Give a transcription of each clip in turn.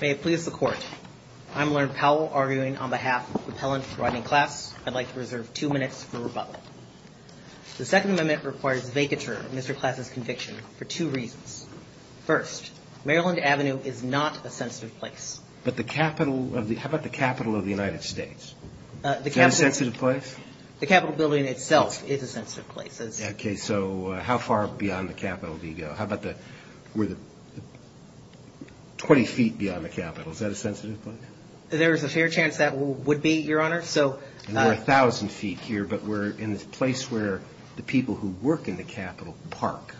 May it please the Court, I'm Lerndt Powell arguing on behalf of the Pellant v. Rodney Class. I'd like to reserve two minutes for rebuttal. The Second Amendment requires vacature of Mr. Class' conviction for two reasons. First, Maryland Avenue is not a sensitive place. But the Capitol of the how about the Capitol of the United States? Is that a sensitive place? The Capitol building itself is a sensitive place. Okay. So how far beyond the Capitol do you go? How about the 20 feet beyond the Capitol? Is that a sensitive place? There is a fair chance that would be, Your Honor. So We're a thousand feet here, but we're in this place where the people who work in the Capitol park.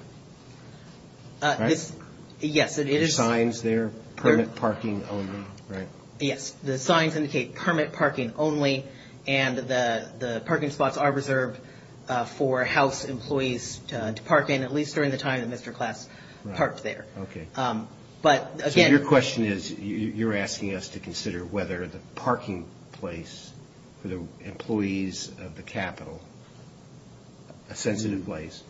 Yes, it is. There are signs there, permit parking only, right? Yes. The signs indicate permit parking only. And the parking spots are reserved for House employees to park in, at least during the time that Mr. Class parked there. Okay. But again Your question is, you're asking us to consider whether the parking place for the employees of the Capitol, a sensitive place,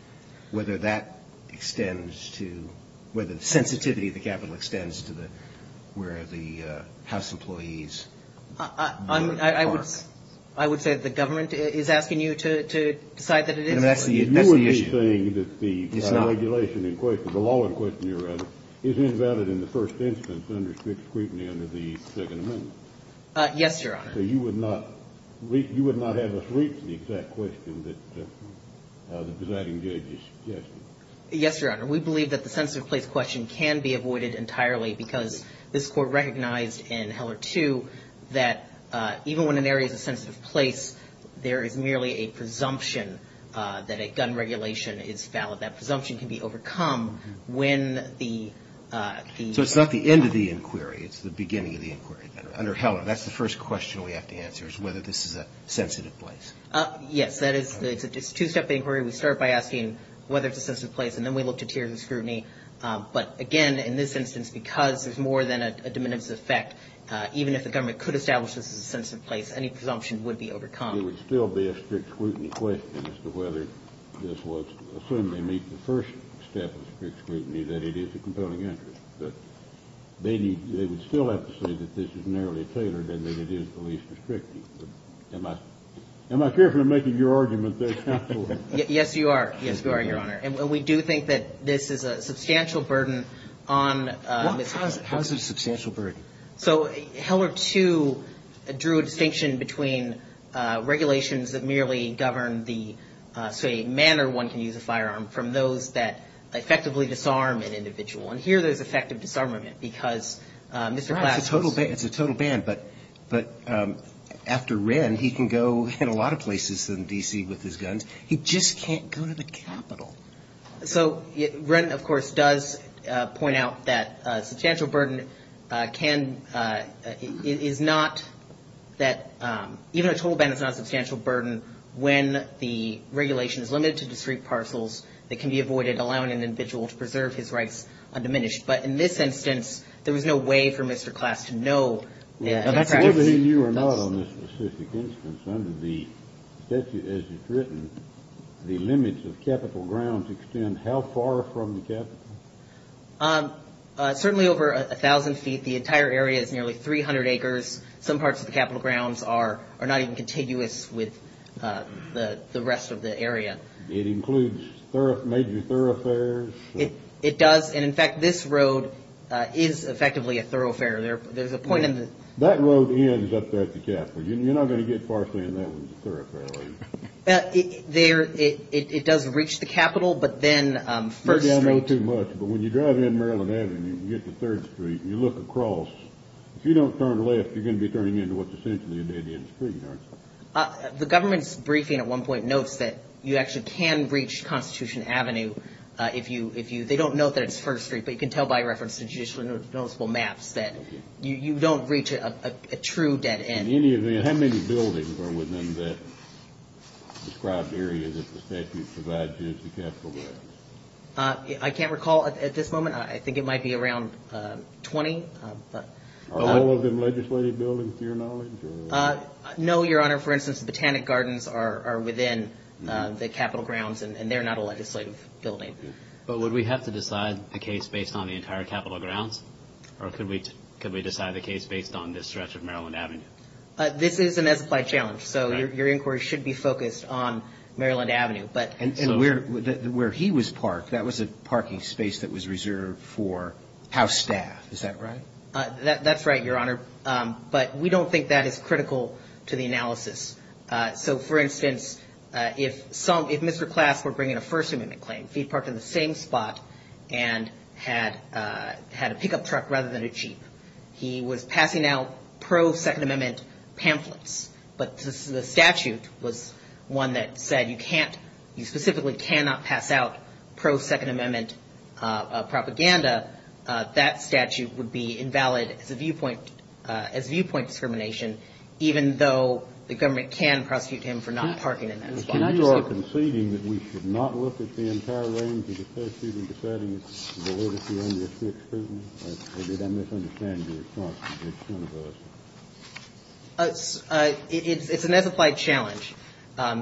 whether that extends to whether the sensitivity of the Capitol extends to where the House employees park. I would say that the government is asking you to decide that it is. That's the issue. Are you saying that the regulation in question, the law in question, Your Honor, is invalid in the first instance under strict scrutiny under the Second Amendment? Yes, Your Honor. So you would not have us reach the exact question that the presiding judge is suggesting? Yes, Your Honor. We believe that the sensitive place question can be avoided entirely because this Court recognized in Heller 2 that even when an area is a sensitive place, there is merely a presumption that a gun regulation is valid. That presumption can be overcome when the So it's not the end of the inquiry. It's the beginning of the inquiry. Under Heller, that's the first question we have to answer, is whether this is a sensitive place. Yes. It's a two-step inquiry. We start by asking whether it's a sensitive place, and then we look to tiers of scrutiny. But, again, in this instance, because there's more than a diminutive effect, even if the government could establish this is a sensitive place, any presumption would be overcome. It would still be a strict scrutiny question as to whether this was, assuming they meet the first step of strict scrutiny, that it is a compelling interest. But they would still have to say that this is narrowly tailored and that it is the least restrictive. Am I careful in making your argument there, Counselor? Yes, you are. Yes, you are, Your Honor. And we do think that this is a substantial burden on Mr. Klaas. How is it a substantial burden? So Heller, too, drew a distinction between regulations that merely govern the, say, manner one can use a firearm from those that effectively disarm an individual. And here there's effective disarmament because Mr. Klaas was Right. It's a total ban. It's a total ban. But after Wren, he can go in a lot of places in D.C. with his guns. He just can't go to the Capitol. So Wren, of course, does point out that a substantial burden can – is not that – even a total ban is not a substantial burden when the regulation is limited to discrete parcels that can be avoided, allowing an individual to preserve his rights undiminished. But in this instance, there was no way for Mr. Klaas to know that. Absolutely. And you are not on this specific instance. Under the statute as it's written, the limits of Capitol grounds extend how far from the Capitol? Certainly over 1,000 feet. The entire area is nearly 300 acres. Some parts of the Capitol grounds are not even contiguous with the rest of the area. It includes major thoroughfares. It does. And, in fact, this road is effectively a thoroughfare. There's a point in the – That road ends up there at the Capitol. You're not going to get far saying that one's a thoroughfare, are you? It does reach the Capitol, but then First Street – Maybe I know too much, but when you drive in Maryland Avenue and you get to Third Street and you look across, if you don't turn left, you're going to be turning into what's essentially an Indian street, aren't you? The government's briefing at one point notes that you actually can reach Constitution Avenue if you – they don't note that it's First Street, but you can tell by reference to judicially noticeable maps that you don't reach a true dead end. How many buildings are within that described area that the statute provides you as the Capitol grounds? I can't recall at this moment. I think it might be around 20. Are all of them legislative buildings to your knowledge? No, Your Honor. For instance, the Botanic Gardens are within the Capitol grounds, and they're not a legislative building. But would we have to decide the case based on the entire Capitol grounds, or could we decide the case based on this stretch of Maryland Avenue? This is an as-applied challenge, so your inquiry should be focused on Maryland Avenue. And where he was parked, that was a parking space that was reserved for House staff. Is that right? That's right, Your Honor, but we don't think that is critical to the analysis. So, for instance, if Mr. Class were bringing a First Amendment claim, if he parked in the same spot and had a pickup truck rather than a jeep, he was passing out pro-Second Amendment pamphlets. But the statute was one that said you specifically cannot pass out pro-Second Amendment propaganda. That statute would be invalid as viewpoint discrimination, even though the government can prosecute him for not parking in that spot. Can I just say one more thing? So you are conceding that we should not look at the entire range of the statute and deciding it's validity under the Sixth Amendment? Or did I misunderstand your response? It's one of those. It's an as-applied challenge.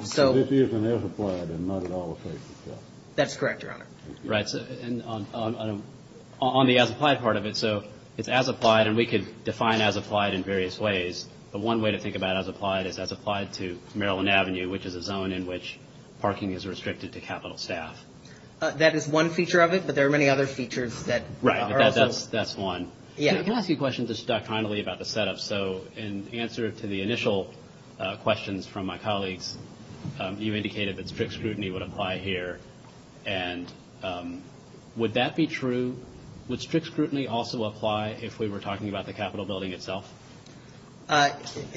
So this is an as-applied and not at all a safety check. That's correct, Your Honor. Right. And on the as-applied part of it, so it's as-applied, and we could define as-applied in various ways. But one way to think about as-applied is as-applied to Maryland Avenue, which is a zone in which parking is restricted to Capitol staff. That is one feature of it, but there are many other features that are also. Right. That's one. Yeah. Can I ask you a question just doctrinally about the setup? So in answer to the initial questions from my colleagues, you indicated that strict scrutiny would apply here. And would that be true? Would strict scrutiny also apply if we were talking about the Capitol Building itself?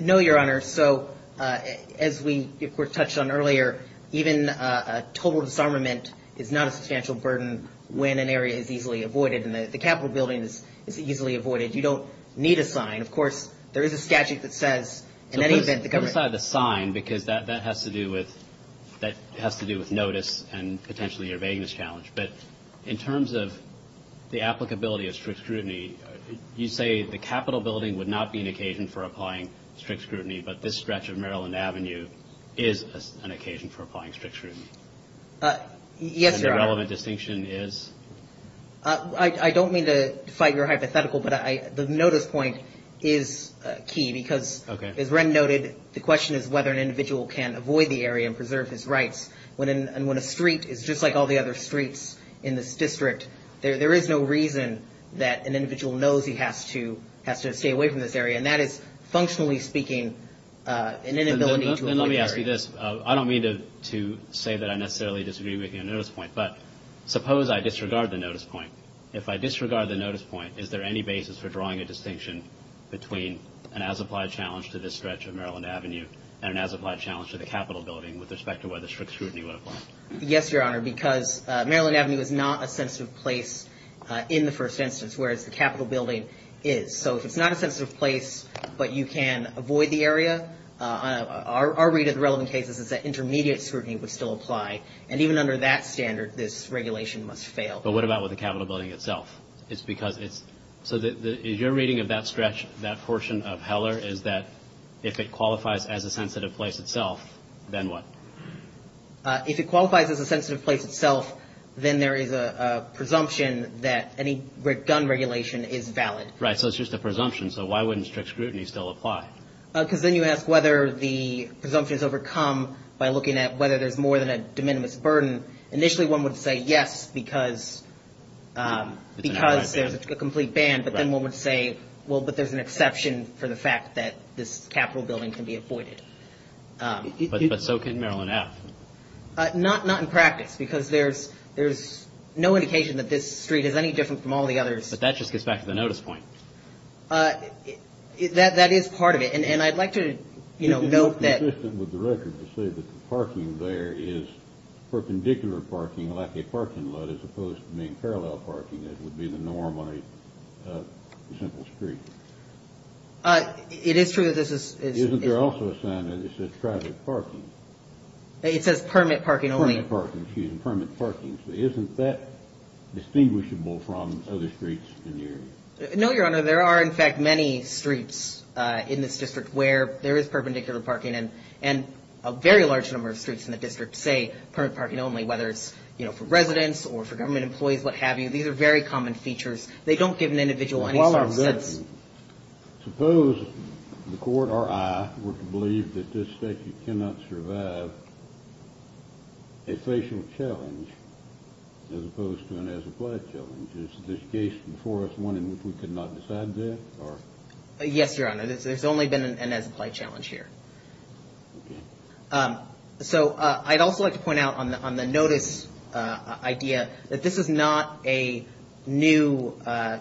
No, Your Honor. So as we, of course, touched on earlier, even a total disarmament is not a substantial burden when an area is easily avoided and the Capitol Building is easily avoided. You don't need a sign. Of course, there is a statute that says in any event the government. Well, aside the sign, because that has to do with notice and potentially your vagueness challenge. But in terms of the applicability of strict scrutiny, you say the Capitol Building would not be an occasion for applying strict scrutiny, but this stretch of Maryland Avenue is an occasion for applying strict scrutiny. Yes, Your Honor. And the relevant distinction is? I don't mean to fight your hypothetical, but the notice point is key. Okay. As Wren noted, the question is whether an individual can avoid the area and preserve his rights. And when a street is just like all the other streets in this district, there is no reason that an individual knows he has to stay away from this area. And that is, functionally speaking, an inability to avoid the area. And let me ask you this. I don't mean to say that I necessarily disagree with your notice point, but suppose I disregard the notice point. If I disregard the notice point, is there any basis for drawing a distinction between an as-applied challenge to this stretch of Maryland Avenue and an as-applied challenge to the Capitol Building with respect to whether strict scrutiny would apply? Yes, Your Honor, because Maryland Avenue is not a sensitive place in the first instance, whereas the Capitol Building is. So if it's not a sensitive place but you can avoid the area, our read of the relevant case is that intermediate scrutiny would still apply. And even under that standard, this regulation must fail. But what about with the Capitol Building itself? So is your reading of that stretch, that portion of Heller, is that if it qualifies as a sensitive place itself, then what? If it qualifies as a sensitive place itself, then there is a presumption that any gun regulation is valid. Right, so it's just a presumption. So why wouldn't strict scrutiny still apply? Because then you ask whether the presumption is overcome by looking at whether there's more than a de minimis burden. Initially, one would say yes, because there's a complete ban, but then one would say, well, but there's an exception for the fact that this Capitol Building can be avoided. But so can Maryland F. Not in practice, because there's no indication that this street is any different from all the others. But that just gets back to the notice point. That is part of it. And I'd like to, you know, note that It's consistent with the record to say that the parking there is perpendicular parking, like a parking lot, as opposed to being parallel parking, as would be the norm on a simple street. It is true that this is Isn't there also a sign that it says private parking? It says permit parking only. Permit parking, excuse me. Permit parking. So isn't that distinguishable from other streets in the area? No, Your Honor. There are, in fact, many streets in this district where there is perpendicular parking and a very large number of streets in the district say permit parking only, whether it's, you know, for residents or for government employees, what have you. These are very common features. They don't give an individual any sort of sense. Suppose the court or I were to believe that this statute cannot survive a facial challenge, as opposed to an as-applied challenge. Is this case before us one in which we could not decide that? Yes, Your Honor. There's only been an as-applied challenge here. So I'd also like to point out on the notice idea that this is not a new, a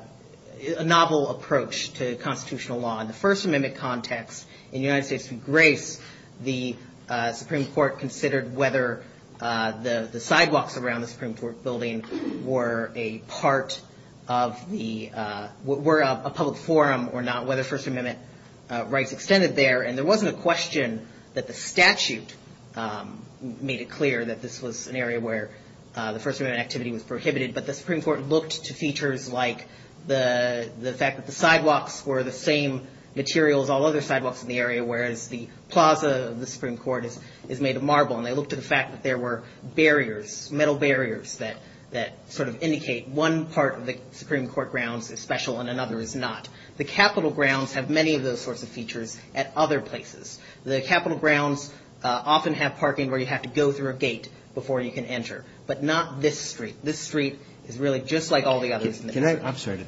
novel approach to constitutional law. In the First Amendment context, in the United States v. Grace, the Supreme Court considered whether the sidewalks around the Supreme Court building were a part of the, were a public forum or not, whether First Amendment rights extended there. And there wasn't a question that the statute made it clear that this was an area where the First Amendment activity was prohibited, but the Supreme Court looked to features like the fact that the sidewalks were the same material as all other sidewalks in the area, whereas the plaza of the Supreme Court is made of marble. And they looked at the fact that there were barriers, metal barriers, that sort of indicate one part of the Supreme Court grounds is special and another is not. The Capitol grounds have many of those sorts of features at other places. The Capitol grounds often have parking where you have to go through a gate before you can enter, but not this street. This street is really just like all the others. I'm sorry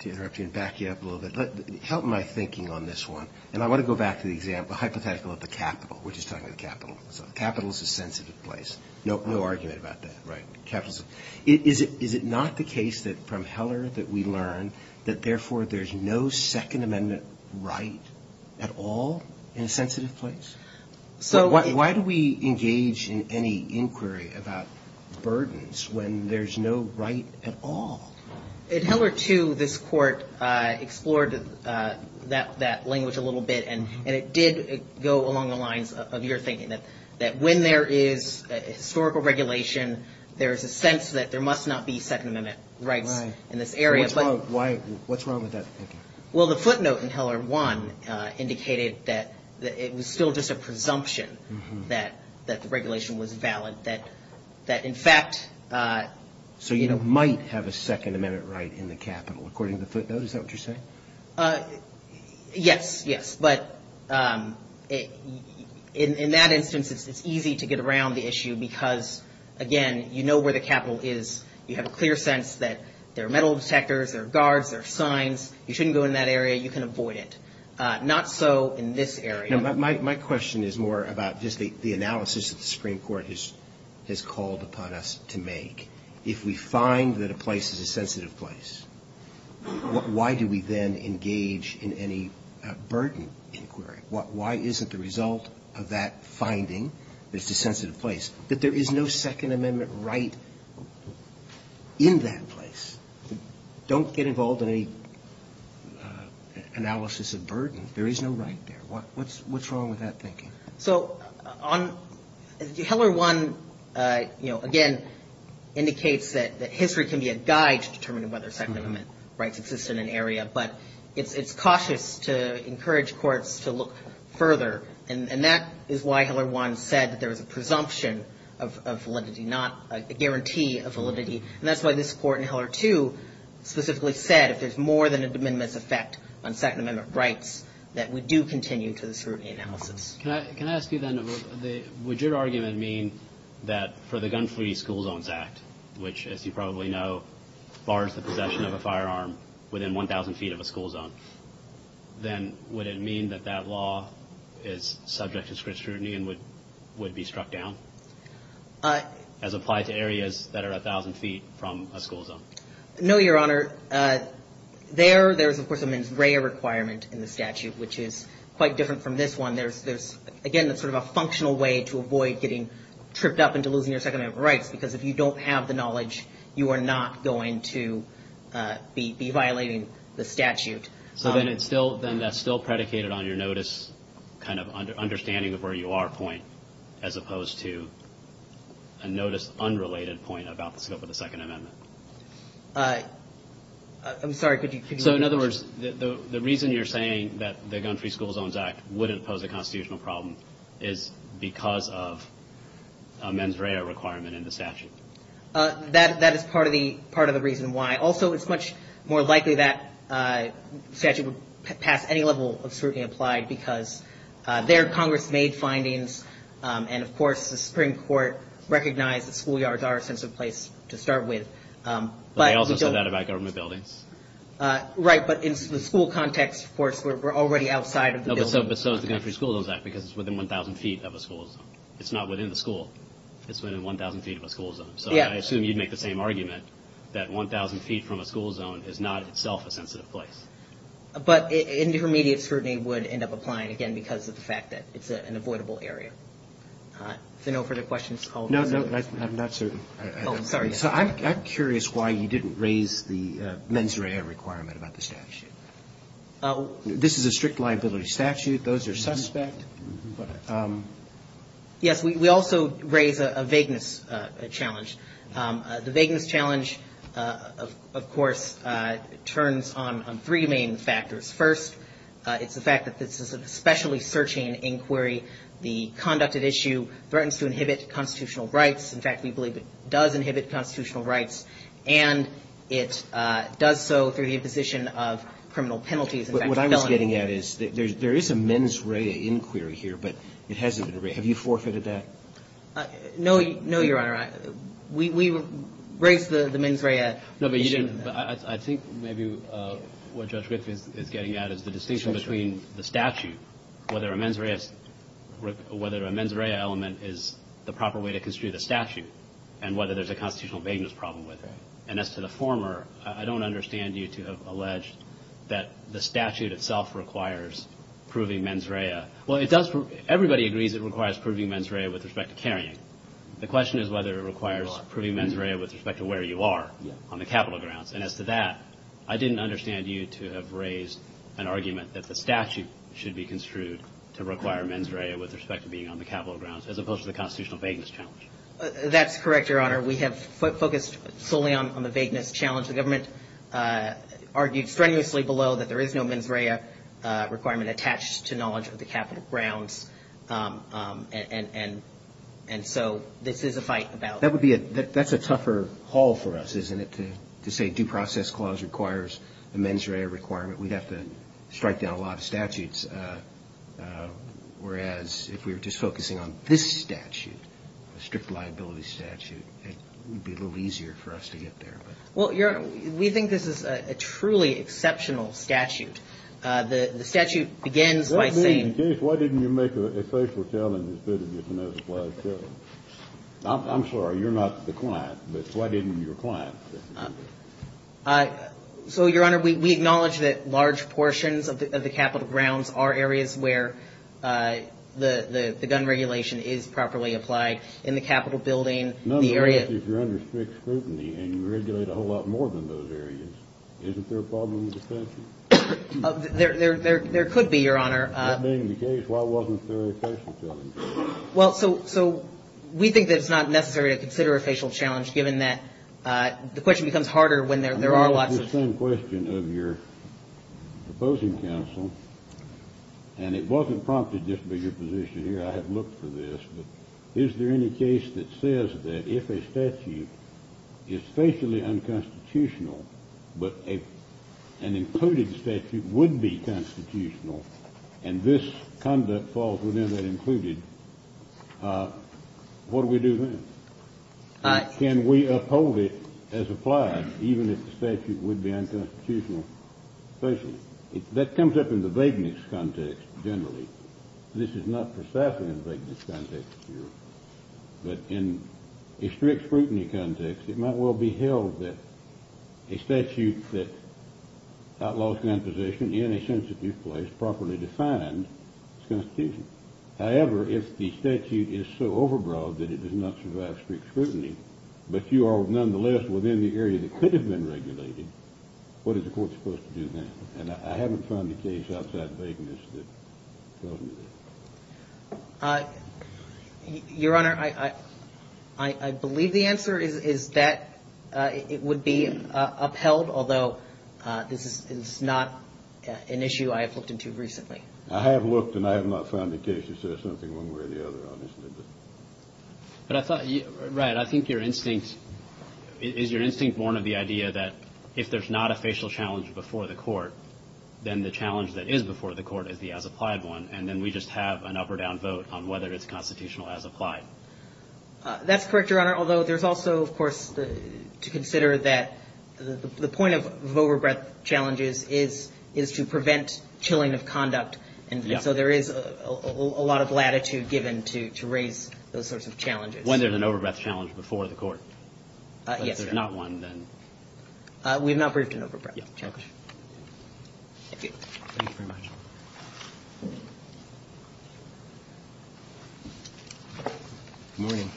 to interrupt you and back you up a little bit. Help my thinking on this one. And I want to go back to the hypothetical of the Capitol. We're just talking about the Capitol. So the Capitol is a sensitive place. No argument about that, right? Is it not the case that from Heller that we learn that, therefore, there's no Second Amendment right at all in a sensitive place? Why do we engage in any inquiry about burdens when there's no right at all? At Heller, too, this court explored that language a little bit, and it did go along the lines of your thinking, that when there is historical regulation, there is a sense that there must not be Second Amendment rights in this area. What's wrong with that thinking? Well, the footnote in Heller 1 indicated that it was still just a presumption that the regulation was valid, that, in fact – So you don't might have a Second Amendment right in the Capitol, according to the footnote. Is that what you're saying? Yes, yes. But in that instance, it's easy to get around the issue because, again, you know where the Capitol is. You have a clear sense that there are metal detectors, there are guards, there are signs. You shouldn't go in that area. You can avoid it. Not so in this area. My question is more about just the analysis that the Supreme Court has called upon us to make. If we find that a place is a sensitive place, why do we then engage in any burden inquiry? Why is it the result of that finding that it's a sensitive place that there is no Second Amendment right in that place? Don't get involved in any analysis of burden. There is no right there. What's wrong with that thinking? So on – Heller 1, you know, again, indicates that history can be a guide to determining whether Second Amendment rights exist in an area. But it's cautious to encourage courts to look further. And that is why Heller 1 said that there was a presumption of validity, not a guarantee of validity. And that's why this court in Heller 2 specifically said if there's more than a de minimis effect on Second Amendment rights, that we do continue to the scrutiny analysis. Can I ask you then, would your argument mean that for the Gun-Free School Zones Act, which, as you probably know, bars the possession of a firearm within 1,000 feet of a school zone, then would it mean that that law is subject to strict scrutiny and would be struck down? As applied to areas that are 1,000 feet from a school zone? No, Your Honor. There, there is, of course, a mens rea requirement in the statute, which is quite different from this one. Again, it's sort of a functional way to avoid getting tripped up into losing your Second Amendment rights, because if you don't have the knowledge, you are not going to be violating the statute. So then it's still, then that's still predicated on your notice, kind of understanding of where you are point, as opposed to a notice unrelated point about the scope of the Second Amendment. I'm sorry, could you? So, in other words, the reason you're saying that the Gun-Free School Zones Act wouldn't pose a constitutional problem is because of a mens rea requirement in the statute. That is part of the, part of the reason why. Also, it's much more likely that statute would pass any level of scrutiny applied, because there, Congress made findings, and, of course, the Supreme Court recognized that schoolyards are a sensitive place to start with. But they also said that about government buildings. Right, but in the school context, of course, we're already outside of the building. But so is the Gun-Free School Zones Act, because it's within 1,000 feet of a school zone. It's not within the school. It's within 1,000 feet of a school zone. So I assume you'd make the same argument that 1,000 feet from a school zone is not itself a sensitive place. But intermediate scrutiny would end up applying, again, because of the fact that it's an avoidable area. If there are no further questions, I'll close. No, no, I'm not certain. Oh, sorry. So I'm curious why you didn't raise the mens rea requirement about the statute. This is a strict liability statute. Those are suspect. Yes, we also raise a vagueness challenge. The vagueness challenge, of course, turns on three main factors. First, it's the fact that this is an especially searching inquiry. The conducted issue threatens to inhibit constitutional rights. In fact, we believe it does inhibit constitutional rights. And it does so through the imposition of criminal penalties. What I was getting at is there is a mens rea inquiry here, but it hasn't been raised. Have you forfeited that? No, Your Honor. We raised the mens rea issue. No, but you didn't. I think maybe what Judge Griffith is getting at is the distinction between the statute, whether a mens rea element is the proper way to construe the statute, and whether there's a constitutional vagueness problem with it. And as to the former, I don't understand you to have alleged that the statute itself requires proving mens rea. Well, it does. Everybody agrees it requires proving mens rea with respect to carrying. The question is whether it requires proving mens rea with respect to where you are on the capital grounds. And as to that, I didn't understand you to have raised an argument that the statute should be construed to require mens rea with respect to being on the capital grounds, as opposed to the constitutional vagueness challenge. That's correct, Your Honor. We have focused solely on the vagueness challenge. The government argued strenuously below that there is no mens rea requirement attached to knowledge of the capital grounds, and so this is a fight about. That's a tougher haul for us, isn't it, to say due process clause requires a mens rea requirement? We'd have to strike down a lot of statutes. Whereas if we were just focusing on this statute, a strict liability statute, it would be a little easier for us to get there. Well, Your Honor, we think this is a truly exceptional statute. The statute begins by saying — What do you mean? In case, why didn't you make a facial challenge instead of making a flag challenge? I'm sorry. You're not the client, but why didn't your client say? So, Your Honor, we acknowledge that large portions of the capital grounds are areas where the gun regulation is properly applied. In the Capitol Building, the area — Nonetheless, if you're under strict scrutiny and you regulate a whole lot more than those areas, isn't there a problem with the statute? There could be, Your Honor. That being the case, why wasn't there a facial challenge? Well, so we think that it's not necessary to consider a facial challenge, given that the question becomes harder when there are lots of — I'm going to ask the same question of your opposing counsel, and it wasn't prompted just by your position here. I have looked for this, but is there any case that says that if a statute is facially unconstitutional, but an included statute would be constitutional, and this conduct falls within that included, what do we do then? Can we uphold it as applied, even if the statute would be unconstitutional? That comes up in the vagueness context generally. This is not precisely in the vagueness context here. But in a strict scrutiny context, it might well be held that a statute that outlaws composition in a sensitive place, properly defined, is constitutional. However, if the statute is so overbroad that it does not survive strict scrutiny, but you are nonetheless within the area that could have been regulated, what is the court supposed to do then? And I haven't found a case outside the vagueness that tells me this. Your Honor, I believe the answer is that it would be upheld, although this is not an issue I have looked into recently. I have looked, and I have not found a case that says something one way or the other on this. But I thought — right. I think your instinct — is your instinct born of the idea that if there's not a facial challenge before the court, then the challenge that is before the court is the as-applied one, and then we just have an up-or-down vote on whether it's constitutional as-applied. That's correct, Your Honor, although there's also, of course, to consider that the point of overbreath challenges is to prevent chilling of conduct. And so there is a lot of latitude given to raise those sorts of challenges. When there's an overbreath challenge before the court. Yes. If there's not one, then — We have not briefed an overbreath challenge. Okay. Thank you. Thank you very much. Good morning.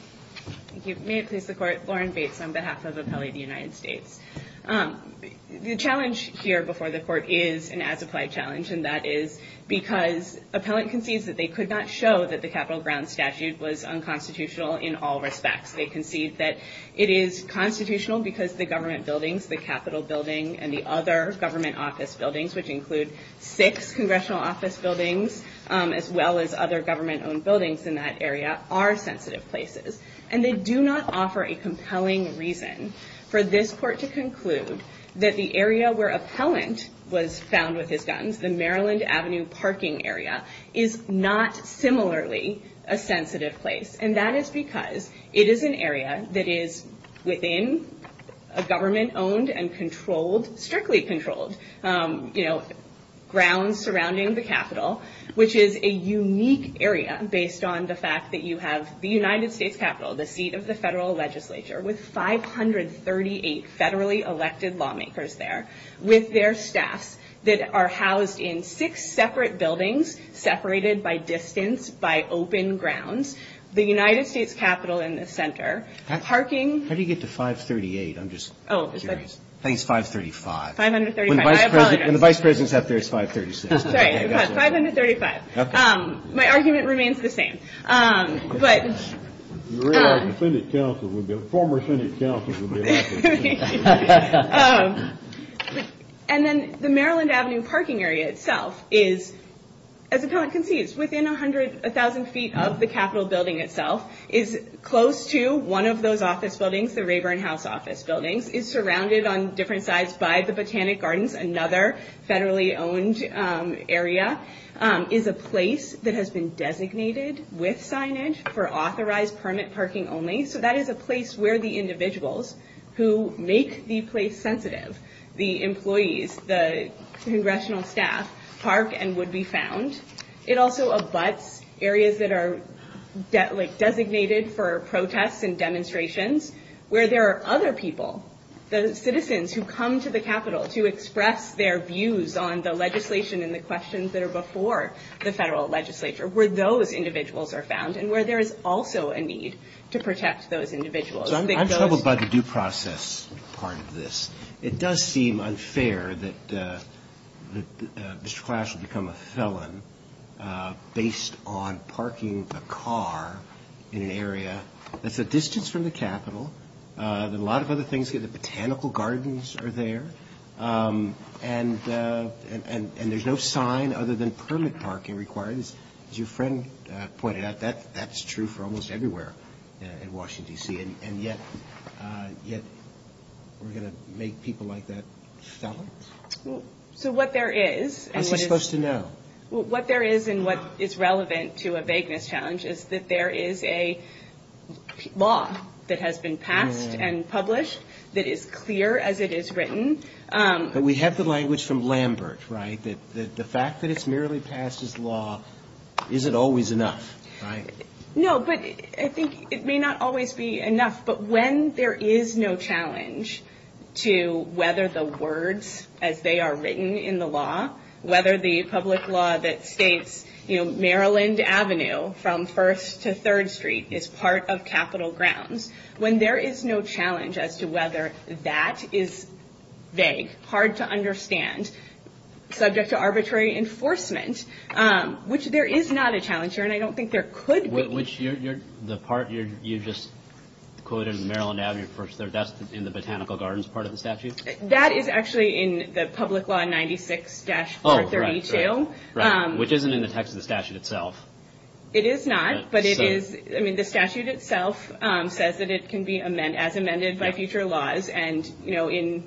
Thank you. May it please the Court. Lauren Bates on behalf of Appellee of the United States. The challenge here before the court is an as-applied challenge, and that is because appellant concedes that they could not show that the Capitol grounds statute was unconstitutional in all respects. They concede that it is constitutional because the government buildings, the Capitol building, and the other government office buildings, which include six congressional office buildings, as well as other government-owned buildings in that area, are sensitive places. And they do not offer a compelling reason for this court to conclude that the area where appellant was found with his guns, the Maryland Avenue parking area, is not similarly a sensitive place. And that is because it is an area that is within a government-owned and controlled — strictly controlled — you know, grounds surrounding the Capitol, which is a unique area based on the fact that you have the United States Capitol, the seat of the federal legislature, with 538 federally elected lawmakers there, with their staffs that are housed in six separate buildings separated by distance by open grounds. The United States Capitol in the center, parking — How do you get to 538? I'm just curious. I think it's 535. 535. When the vice president is up there, it's 536. Sorry, we've got 535. Okay. My argument remains the same. You realize the former Senate counsel would be laughing. And then the Maryland Avenue parking area itself is, as appellant concedes, within a thousand feet of the Capitol building itself, is close to one of those office buildings, the Rayburn House office buildings, is surrounded on different sides by the Botanic Gardens, another federally-owned area, is a place that has been designated with signage for authorized permit parking only. So that is a place where the individuals who make the place sensitive, the employees, the congressional staff, park and would be found. It also abuts areas that are designated for protests and demonstrations where there are other people, the citizens who come to the Capitol to express their views on the legislation and the questions that are before the federal legislature, where those individuals are found and where there is also a need to protect those individuals. I'm troubled by the due process part of this. It does seem unfair that Mr. Clash would become a felon based on parking a car in an area that's a distance from the Capitol, that a lot of other things, the Botanical Gardens are there, and there's no sign other than permit parking required. As your friend pointed out, that's true for almost everywhere in Washington, D.C. and yet we're going to make people like that felons? So what there is and what is relevant to a vagueness challenge is that there is a law that has been passed and published that is clear as it is written. But we have the language from Lambert, right? The fact that it's merely passed as law isn't always enough, right? No, but I think it may not always be enough. But when there is no challenge to whether the words as they are written in the law, whether the public law that states Maryland Avenue from 1st to 3rd Street is part of Capitol grounds, when there is no challenge as to whether that is vague, hard to understand, subject to arbitrary enforcement, which there is not a challenge here and I don't think there could be. Which the part you just quoted, Maryland Avenue from 1st to 3rd, that's in the Botanical Gardens part of the statute? That is actually in the Public Law 96-432. Oh, right, right. Which isn't in the text of the statute itself. It is not, but the statute itself says that it can be as amended by future laws. And, you know, in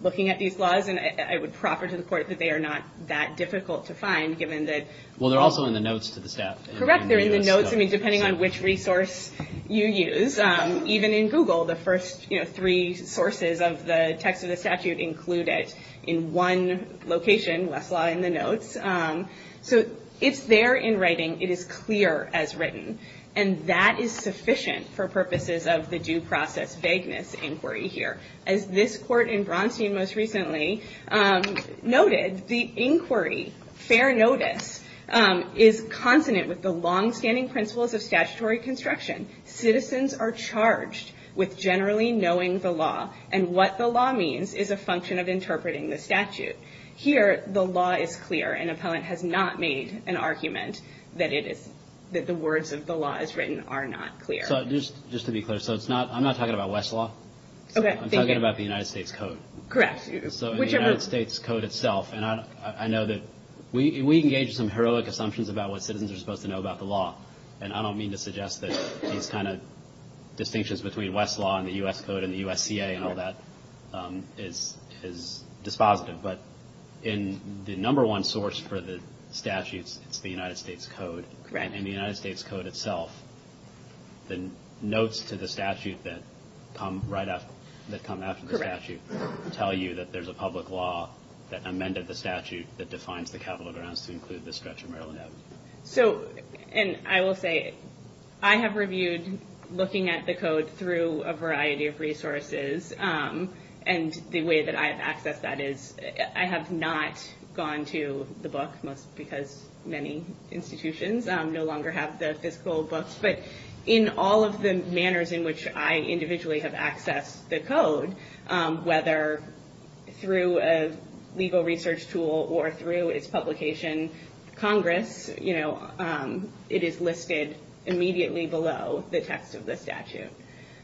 looking at these laws, and I would proffer to the court that they are not that difficult to find. Well, they're also in the notes to the staff. Correct, they're in the notes, depending on which resource you use. Even in Google, the first three sources of the text of the statute include it in one location, Westlaw in the notes. So it's there in writing. It is clear as written. And that is sufficient for purposes of the due process vagueness inquiry here. As this court in Bronstein most recently noted, the inquiry, fair notice, is consonant with the longstanding principles of statutory construction. Citizens are charged with generally knowing the law and what the law means is a function of interpreting the statute. Here, the law is clear. An appellant has not made an argument that the words of the law as written are not clear. So just to be clear, I'm not talking about Westlaw. I'm talking about the United States Code. Correct. So the United States Code itself, and I know that we engage in some heroic assumptions about what citizens are supposed to know about the law. And I don't mean to suggest that these kind of distinctions between Westlaw and the U.S. Code and the U.S.CA and all that is dispositive. But in the number one source for the statutes, it's the United States Code. Correct. And the United States Code itself, the notes to the statute that come after the statute tell you that there's a public law that amended the statute that defines the capital grounds to include the stretch of Maryland Avenue. So, and I will say, I have reviewed looking at the code through a variety of resources. And the way that I have accessed that is I have not gone to the book, because many institutions no longer have the fiscal books. But in all of the manners in which I individually have accessed the code, whether through a legal research tool or through its publication, Congress, you know, it is listed immediately below the text of the statute.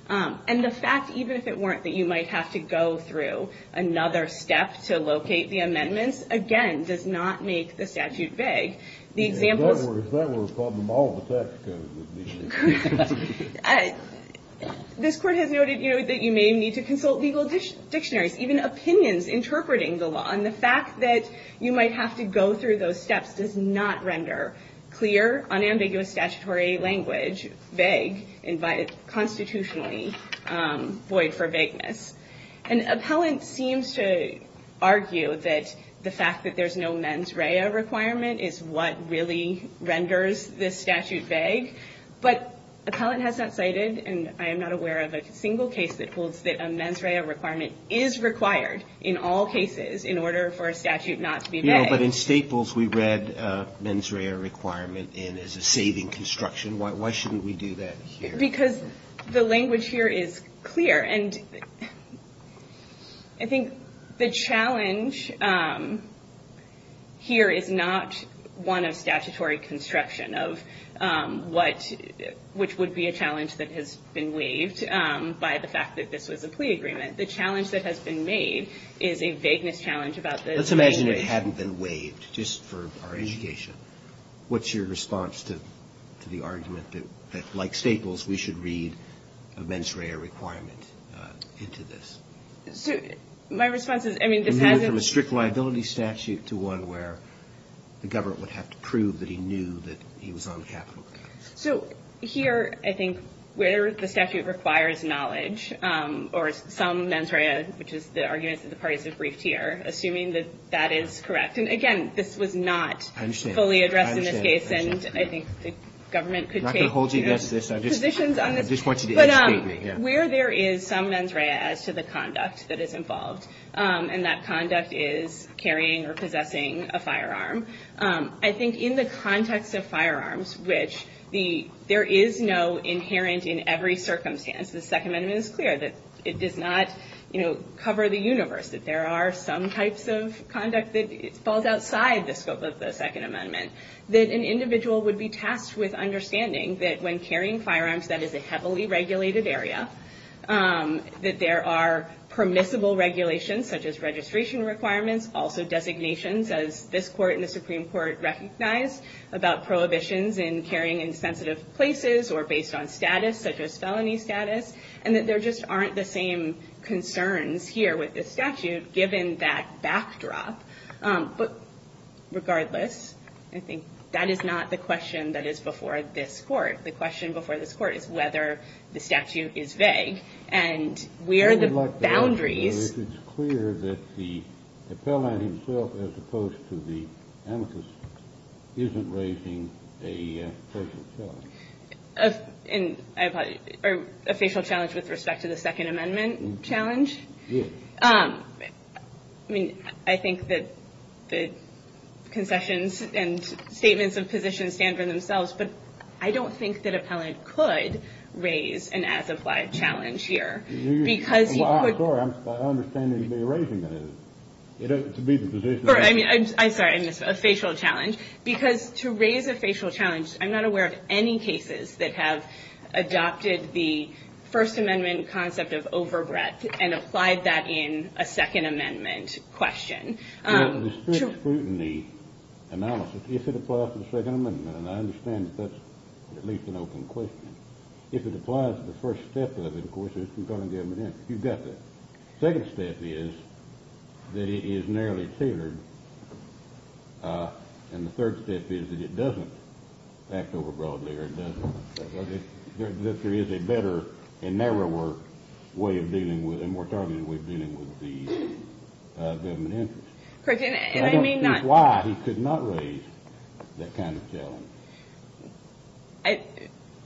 And the fact, even if it weren't, that you might have to go through another step to locate the amendments, again, does not make the statute vague. The examples If that were a problem, all of the text codes would be vague. This Court has noted, you know, that you may need to consult legal dictionaries, even opinions interpreting the law. And the fact that you might have to go through those steps does not render clear, unambiguous statutory language vague and constitutionally void for vagueness. An appellant seems to argue that the fact that there's no mens rea requirement is what really renders this statute vague. But appellant has not cited, and I am not aware of a single case that holds that a mens rea requirement is required in all cases in order for a statute not to be vague. No, but in Staples we read mens rea requirement in as a saving construction. Why shouldn't we do that here? Because the language here is clear. And I think the challenge here is not one of statutory construction of what, which would be a challenge that has been waived by the fact that this was a plea agreement. The challenge that has been made is a vagueness challenge about the Let's imagine it hadn't been waived just for our education. What's your response to the argument that, like Staples, we should read a mens rea requirement into this? So my response is, I mean, this has We move from a strict liability statute to one where the government would have to prove that he knew that he was on capital counts. So here, I think, where the statute requires knowledge, or some mens rea, which is the argument that the parties have briefed here, assuming that that is correct. And again, this was not fully addressed in this case. And I think the government could take positions on this. But where there is some mens rea as to the conduct that is involved, and that conduct is carrying or possessing a firearm, I think in the context of firearms, which there is no inherent in every circumstance, the Second Amendment is clear that it does not cover the universe, that there are some types of conduct that falls outside the scope of the Second Amendment, that an individual would be tasked with understanding that when carrying firearms, that is a heavily regulated area, that there are permissible regulations such as registration requirements, also designations, as this court and the Supreme Court recognize, about prohibitions in carrying in sensitive places or based on status, such as felony status, and that there just aren't the same concerns here with this statute, given that backdrop. But regardless, I think that is not the question that is before this court. The question before this court is whether the statute is vague. And where the boundaries. It's clear that the appellant himself, as opposed to the amicus, isn't raising a facial challenge. A facial challenge with respect to the Second Amendment challenge? Yes. I mean, I think that the concessions and statements of position stand for themselves. But I don't think that appellant could raise an as-applied challenge here. Because you could. Well, I'm sorry. I understand that you'd be raising it. It ought to be the position. I'm sorry. A facial challenge. Because to raise a facial challenge, I'm not aware of any cases that have adopted the First Amendment concept of overbreadth and applied that in a Second Amendment question. With respect to scrutiny analysis, if it applies to the Second Amendment, and I understand that that's at least an open question, if it applies to the first step of it, of course, it's concerning government interest. You've got that. The second step is that it is narrowly tailored. And the third step is that it doesn't act overbroadly or it doesn't. If there is a better and narrower way of dealing with it, a more targeted way of dealing with the government interest. Correct. And I may not. So I don't see why he could not raise that kind of challenge.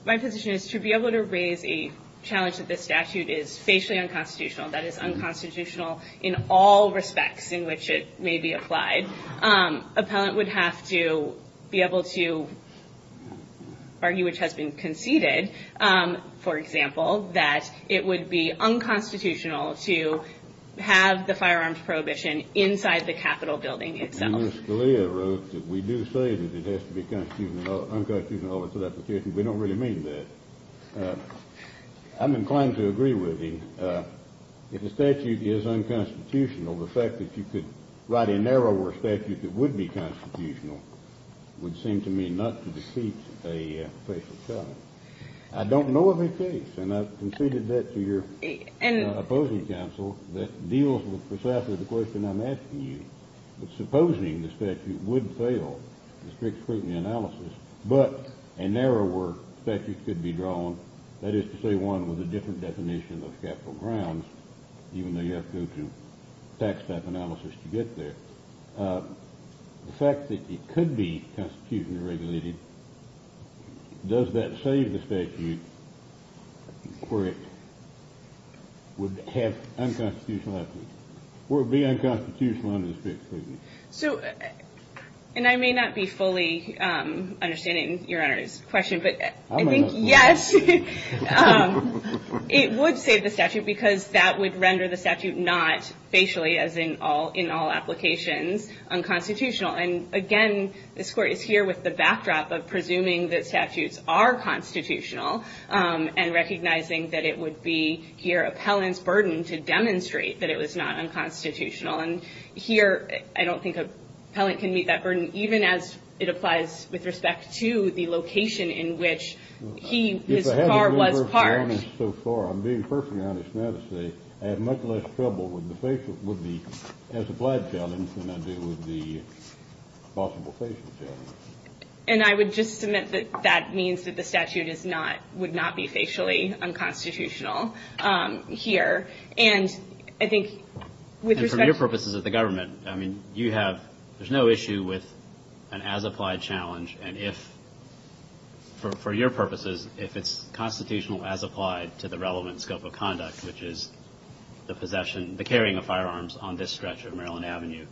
My position is to be able to raise a challenge that this statute is facially unconstitutional, that it's unconstitutional in all respects in which it may be applied, an appellant would have to be able to argue, which has been conceded, for example, that it would be unconstitutional to have the firearms prohibition inside the Capitol building itself. And Ms. Scalia wrote that we do say that it has to be unconstitutional in all respects. We don't really mean that. I'm inclined to agree with you. If the statute is unconstitutional, the fact that you could write a narrower statute that would be constitutional would seem to me not to defeat a facial challenge. I don't know of a case, and I've conceded that to your opposing counsel, that deals with precisely the question I'm asking you. But supposing the statute would fail the strict scrutiny analysis, but a narrower statute could be drawn, that is to say one with a different definition of capital grounds, even though you have to go through tax type analysis to get there. The fact that it could be constitutionally regulated, does that save the statute where it would be unconstitutional under the strict scrutiny? And I may not be fully understanding Your Honor's question, but I think, yes, it would save the statute because that would render the statute not, facially, as in all applications, unconstitutional. And again, this Court is here with the backdrop of presuming that statutes are constitutional and recognizing that it would be here appellant's burden to demonstrate that it was not unconstitutional. And here, I don't think an appellant can meet that burden, even as it applies with respect to the location in which he, his car was parked. If I haven't been perfectly honest so far, I'm being perfectly honest now to say I have much less trouble with the facial, with the as-applied challenge than I do with the possible facial challenge. And I would just submit that that means that the statute is not, would not be facially unconstitutional here. And I think with respect to... And for your purposes as the government, I mean, you have, there's no issue with an as-applied challenge. And if, for your purposes, if it's constitutional as applied to the relevant scope of conduct, which is the possession, the carrying of firearms on this stretch of Maryland Avenue,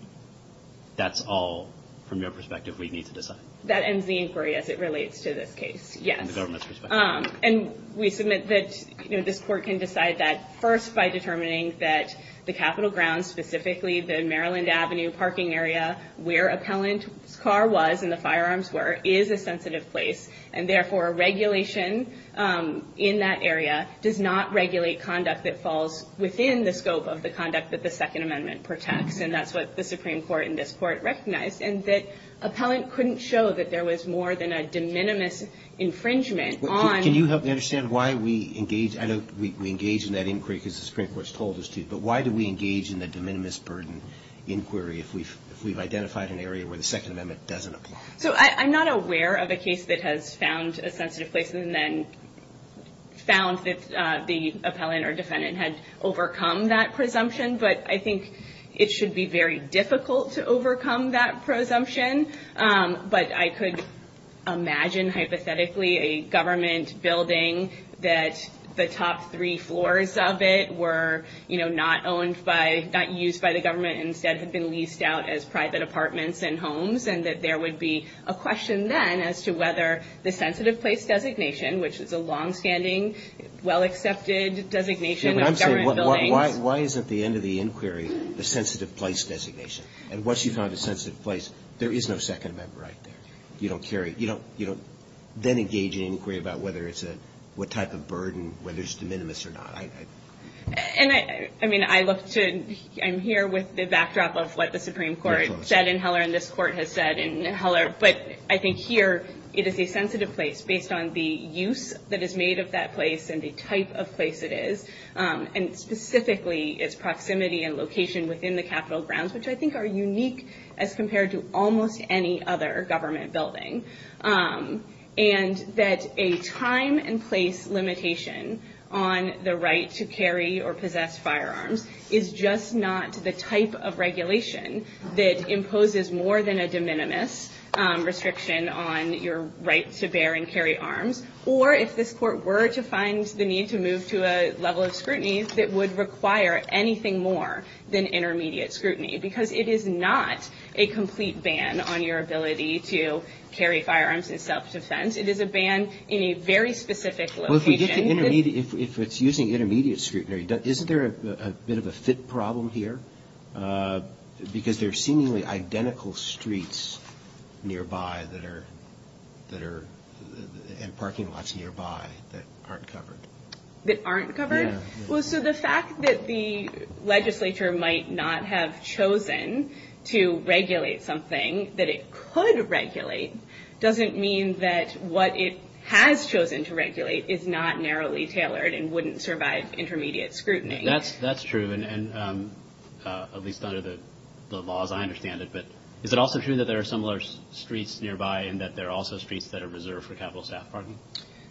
that's all, from your perspective, we need to decide. That ends the inquiry as it relates to this case, yes. From the government's perspective. And we submit that, you know, this Court can decide that first by determining that the Capitol grounds, specifically the Maryland Avenue parking area, where appellant's car was and the firearms were, is a sensitive place. And therefore, regulation in that area does not regulate conduct that falls within the scope of the conduct that the Second Amendment protects. And that's what the Supreme Court and this Court recognized. And that appellant couldn't show that there was more than a de minimis infringement Can you help me understand why we engage, I know we engage in that inquiry because the Supreme Court's told us to, but why do we engage in the de minimis burden inquiry if we've identified an area where the Second Amendment doesn't apply? So I'm not aware of a case that has found a sensitive place and then found that the appellant or defendant had overcome that presumption. But I think it should be very difficult to overcome that presumption. But I could imagine, hypothetically, a government building that the top three floors of it were, you know, not owned by, not used by the government and instead had been leased out as private apartments and homes and that there would be a question then as to whether the sensitive place designation, which is a longstanding, well-accepted designation of government buildings. Yeah, but I'm saying, why is at the end of the inquiry the sensitive place designation? And once you've found a sensitive place, there is no Second Amendment right there. You don't carry, you don't then engage in an inquiry about whether it's a, what type of burden, whether it's de minimis or not. And I, I mean, I look to, I'm here with the backdrop of what the Supreme Court said in Heller and this Court has said in Heller. But I think here it is a sensitive place based on the use that is made of that place and the type of place it is. And specifically its proximity and location within the Capitol grounds, which I think are unique as compared to almost any other government building. And that a time and place limitation on the right to carry or possess firearms is just not the type of regulation that imposes more than a de minimis restriction on your right to bear and carry arms. Or if this Court were to find the need to move to a level of scrutiny that would require anything more than intermediate scrutiny. Because it is not a complete ban on your ability to carry firearms in self-defense. It is a ban in a very specific location. Well, if we get to intermediate, if it's using intermediate scrutiny, isn't there a bit of a fit problem here? Because there are seemingly identical streets nearby and parking lots nearby that aren't covered. That aren't covered? Well, so the fact that the legislature might not have chosen to regulate something that it could regulate doesn't mean that what it has chosen to regulate is not narrowly tailored and wouldn't survive intermediate scrutiny. That's true, at least under the laws. I understand it. But is it also true that there are similar streets nearby and that there are also streets that are reserved for capital staff parking?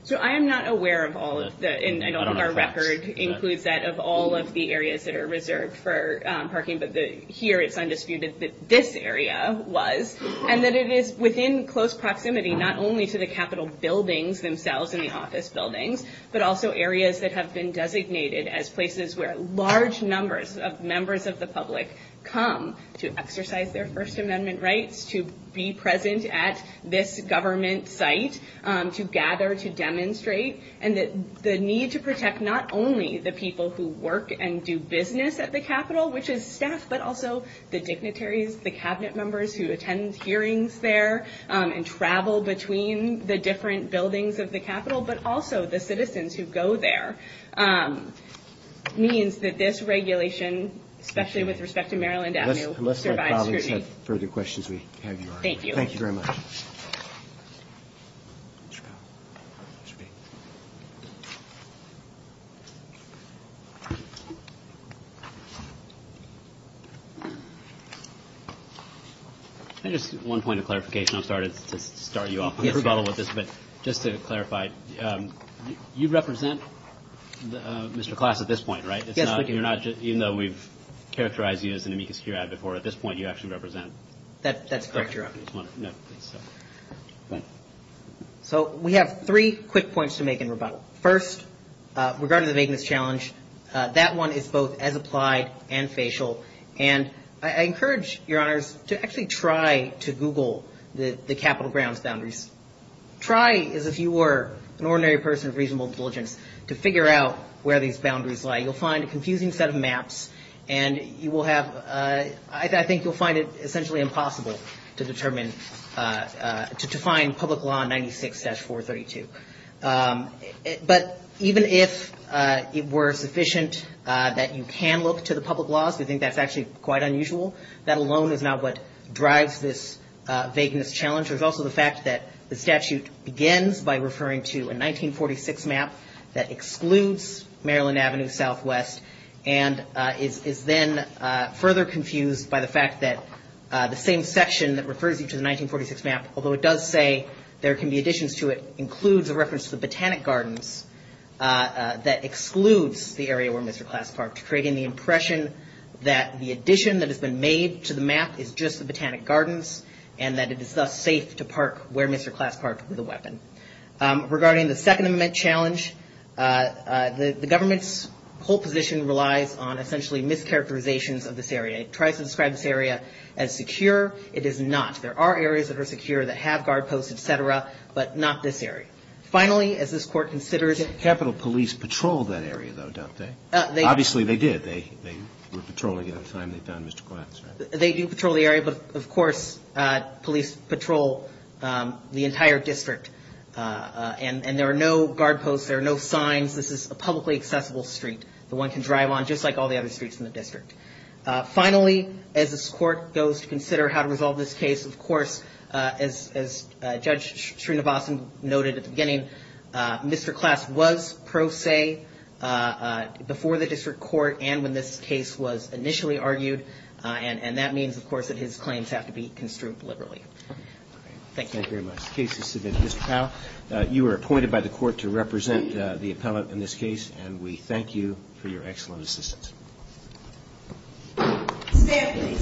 So I am not aware of all of the, and I know our record includes that, of all of the areas that are reserved for parking. But here it's undisputed that this area was. And that it is within close proximity, not only to the capital buildings themselves and the office buildings, but also areas that have been designated as places where large numbers of members of the public come to exercise their First Amendment rights, to be present at this government site, to gather, to demonstrate. And the need to protect not only the people who work and do business at the capital, which is staff, but also the dignitaries, the cabinet members who attend hearings there and travel between the different buildings of the capital, but also the citizens who go there, means that this regulation, especially with respect to Maryland Avenue, survives scrutiny. Unless my colleagues have further questions, we have yours. Thank you. Thank you very much. Just one point of clarification. I'll start you off. Just to clarify, you represent Mr. Klass at this point, right? Yes. Even though we've characterized you as an amicus curiae before, at this point you actually represent. That's correct, Your Honor. So we have three quick points to make in rebuttal. First, regarding the vagueness challenge, that one is both as applied and facial. And I encourage, Your Honors, to actually try to Google the Capitol grounds boundaries. Try, as if you were an ordinary person of reasonable diligence, to figure out where these boundaries lie. You'll find a confusing set of maps, and you will have, I think you'll find it essentially impossible to determine, to define public law 96-432. But even if it were sufficient that you can look to the public laws, we think that's actually quite unusual. That alone is not what drives this vagueness challenge. There's also the fact that the statute begins by referring to a 1946 map that excludes Maryland Avenue Southwest, and is then further confused by the fact that the same section that refers you to the 1946 map, although it does say there can be additions to it, includes a reference to the Botanic Gardens that excludes the area where Mr. Klass parked, creating the impression that the addition that has been made to the map is just the Botanic Gardens, and that it is thus safe to park where Mr. Klass parked with a weapon. Regarding the second amendment challenge, the government's whole position relies on essentially mischaracterizations of this area. It tries to describe this area as secure. It is not. There are areas that are secure that have guard posts, et cetera, but not this area. Finally, as this Court considers it. Capitol police patrol that area, though, don't they? Obviously they did. They were patrolling at a time they found Mr. Klass. They do patrol the area, but, of course, police patrol the entire district. And there are no guard posts. There are no signs. This is a publicly accessible street that one can drive on, just like all the other streets in the district. Finally, as this Court goes to consider how to resolve this case, of course, as Judge Srinivasan noted at the beginning, Mr. Klass was pro se before the district court and when this case was initially argued, and that means, of course, that his claims have to be construed liberally. Thank you. Thank you very much. The case is submitted. Mr. Powell, you are appointed by the Court to represent the appellant in this case, and we thank you for your excellent assistance. Stand, please.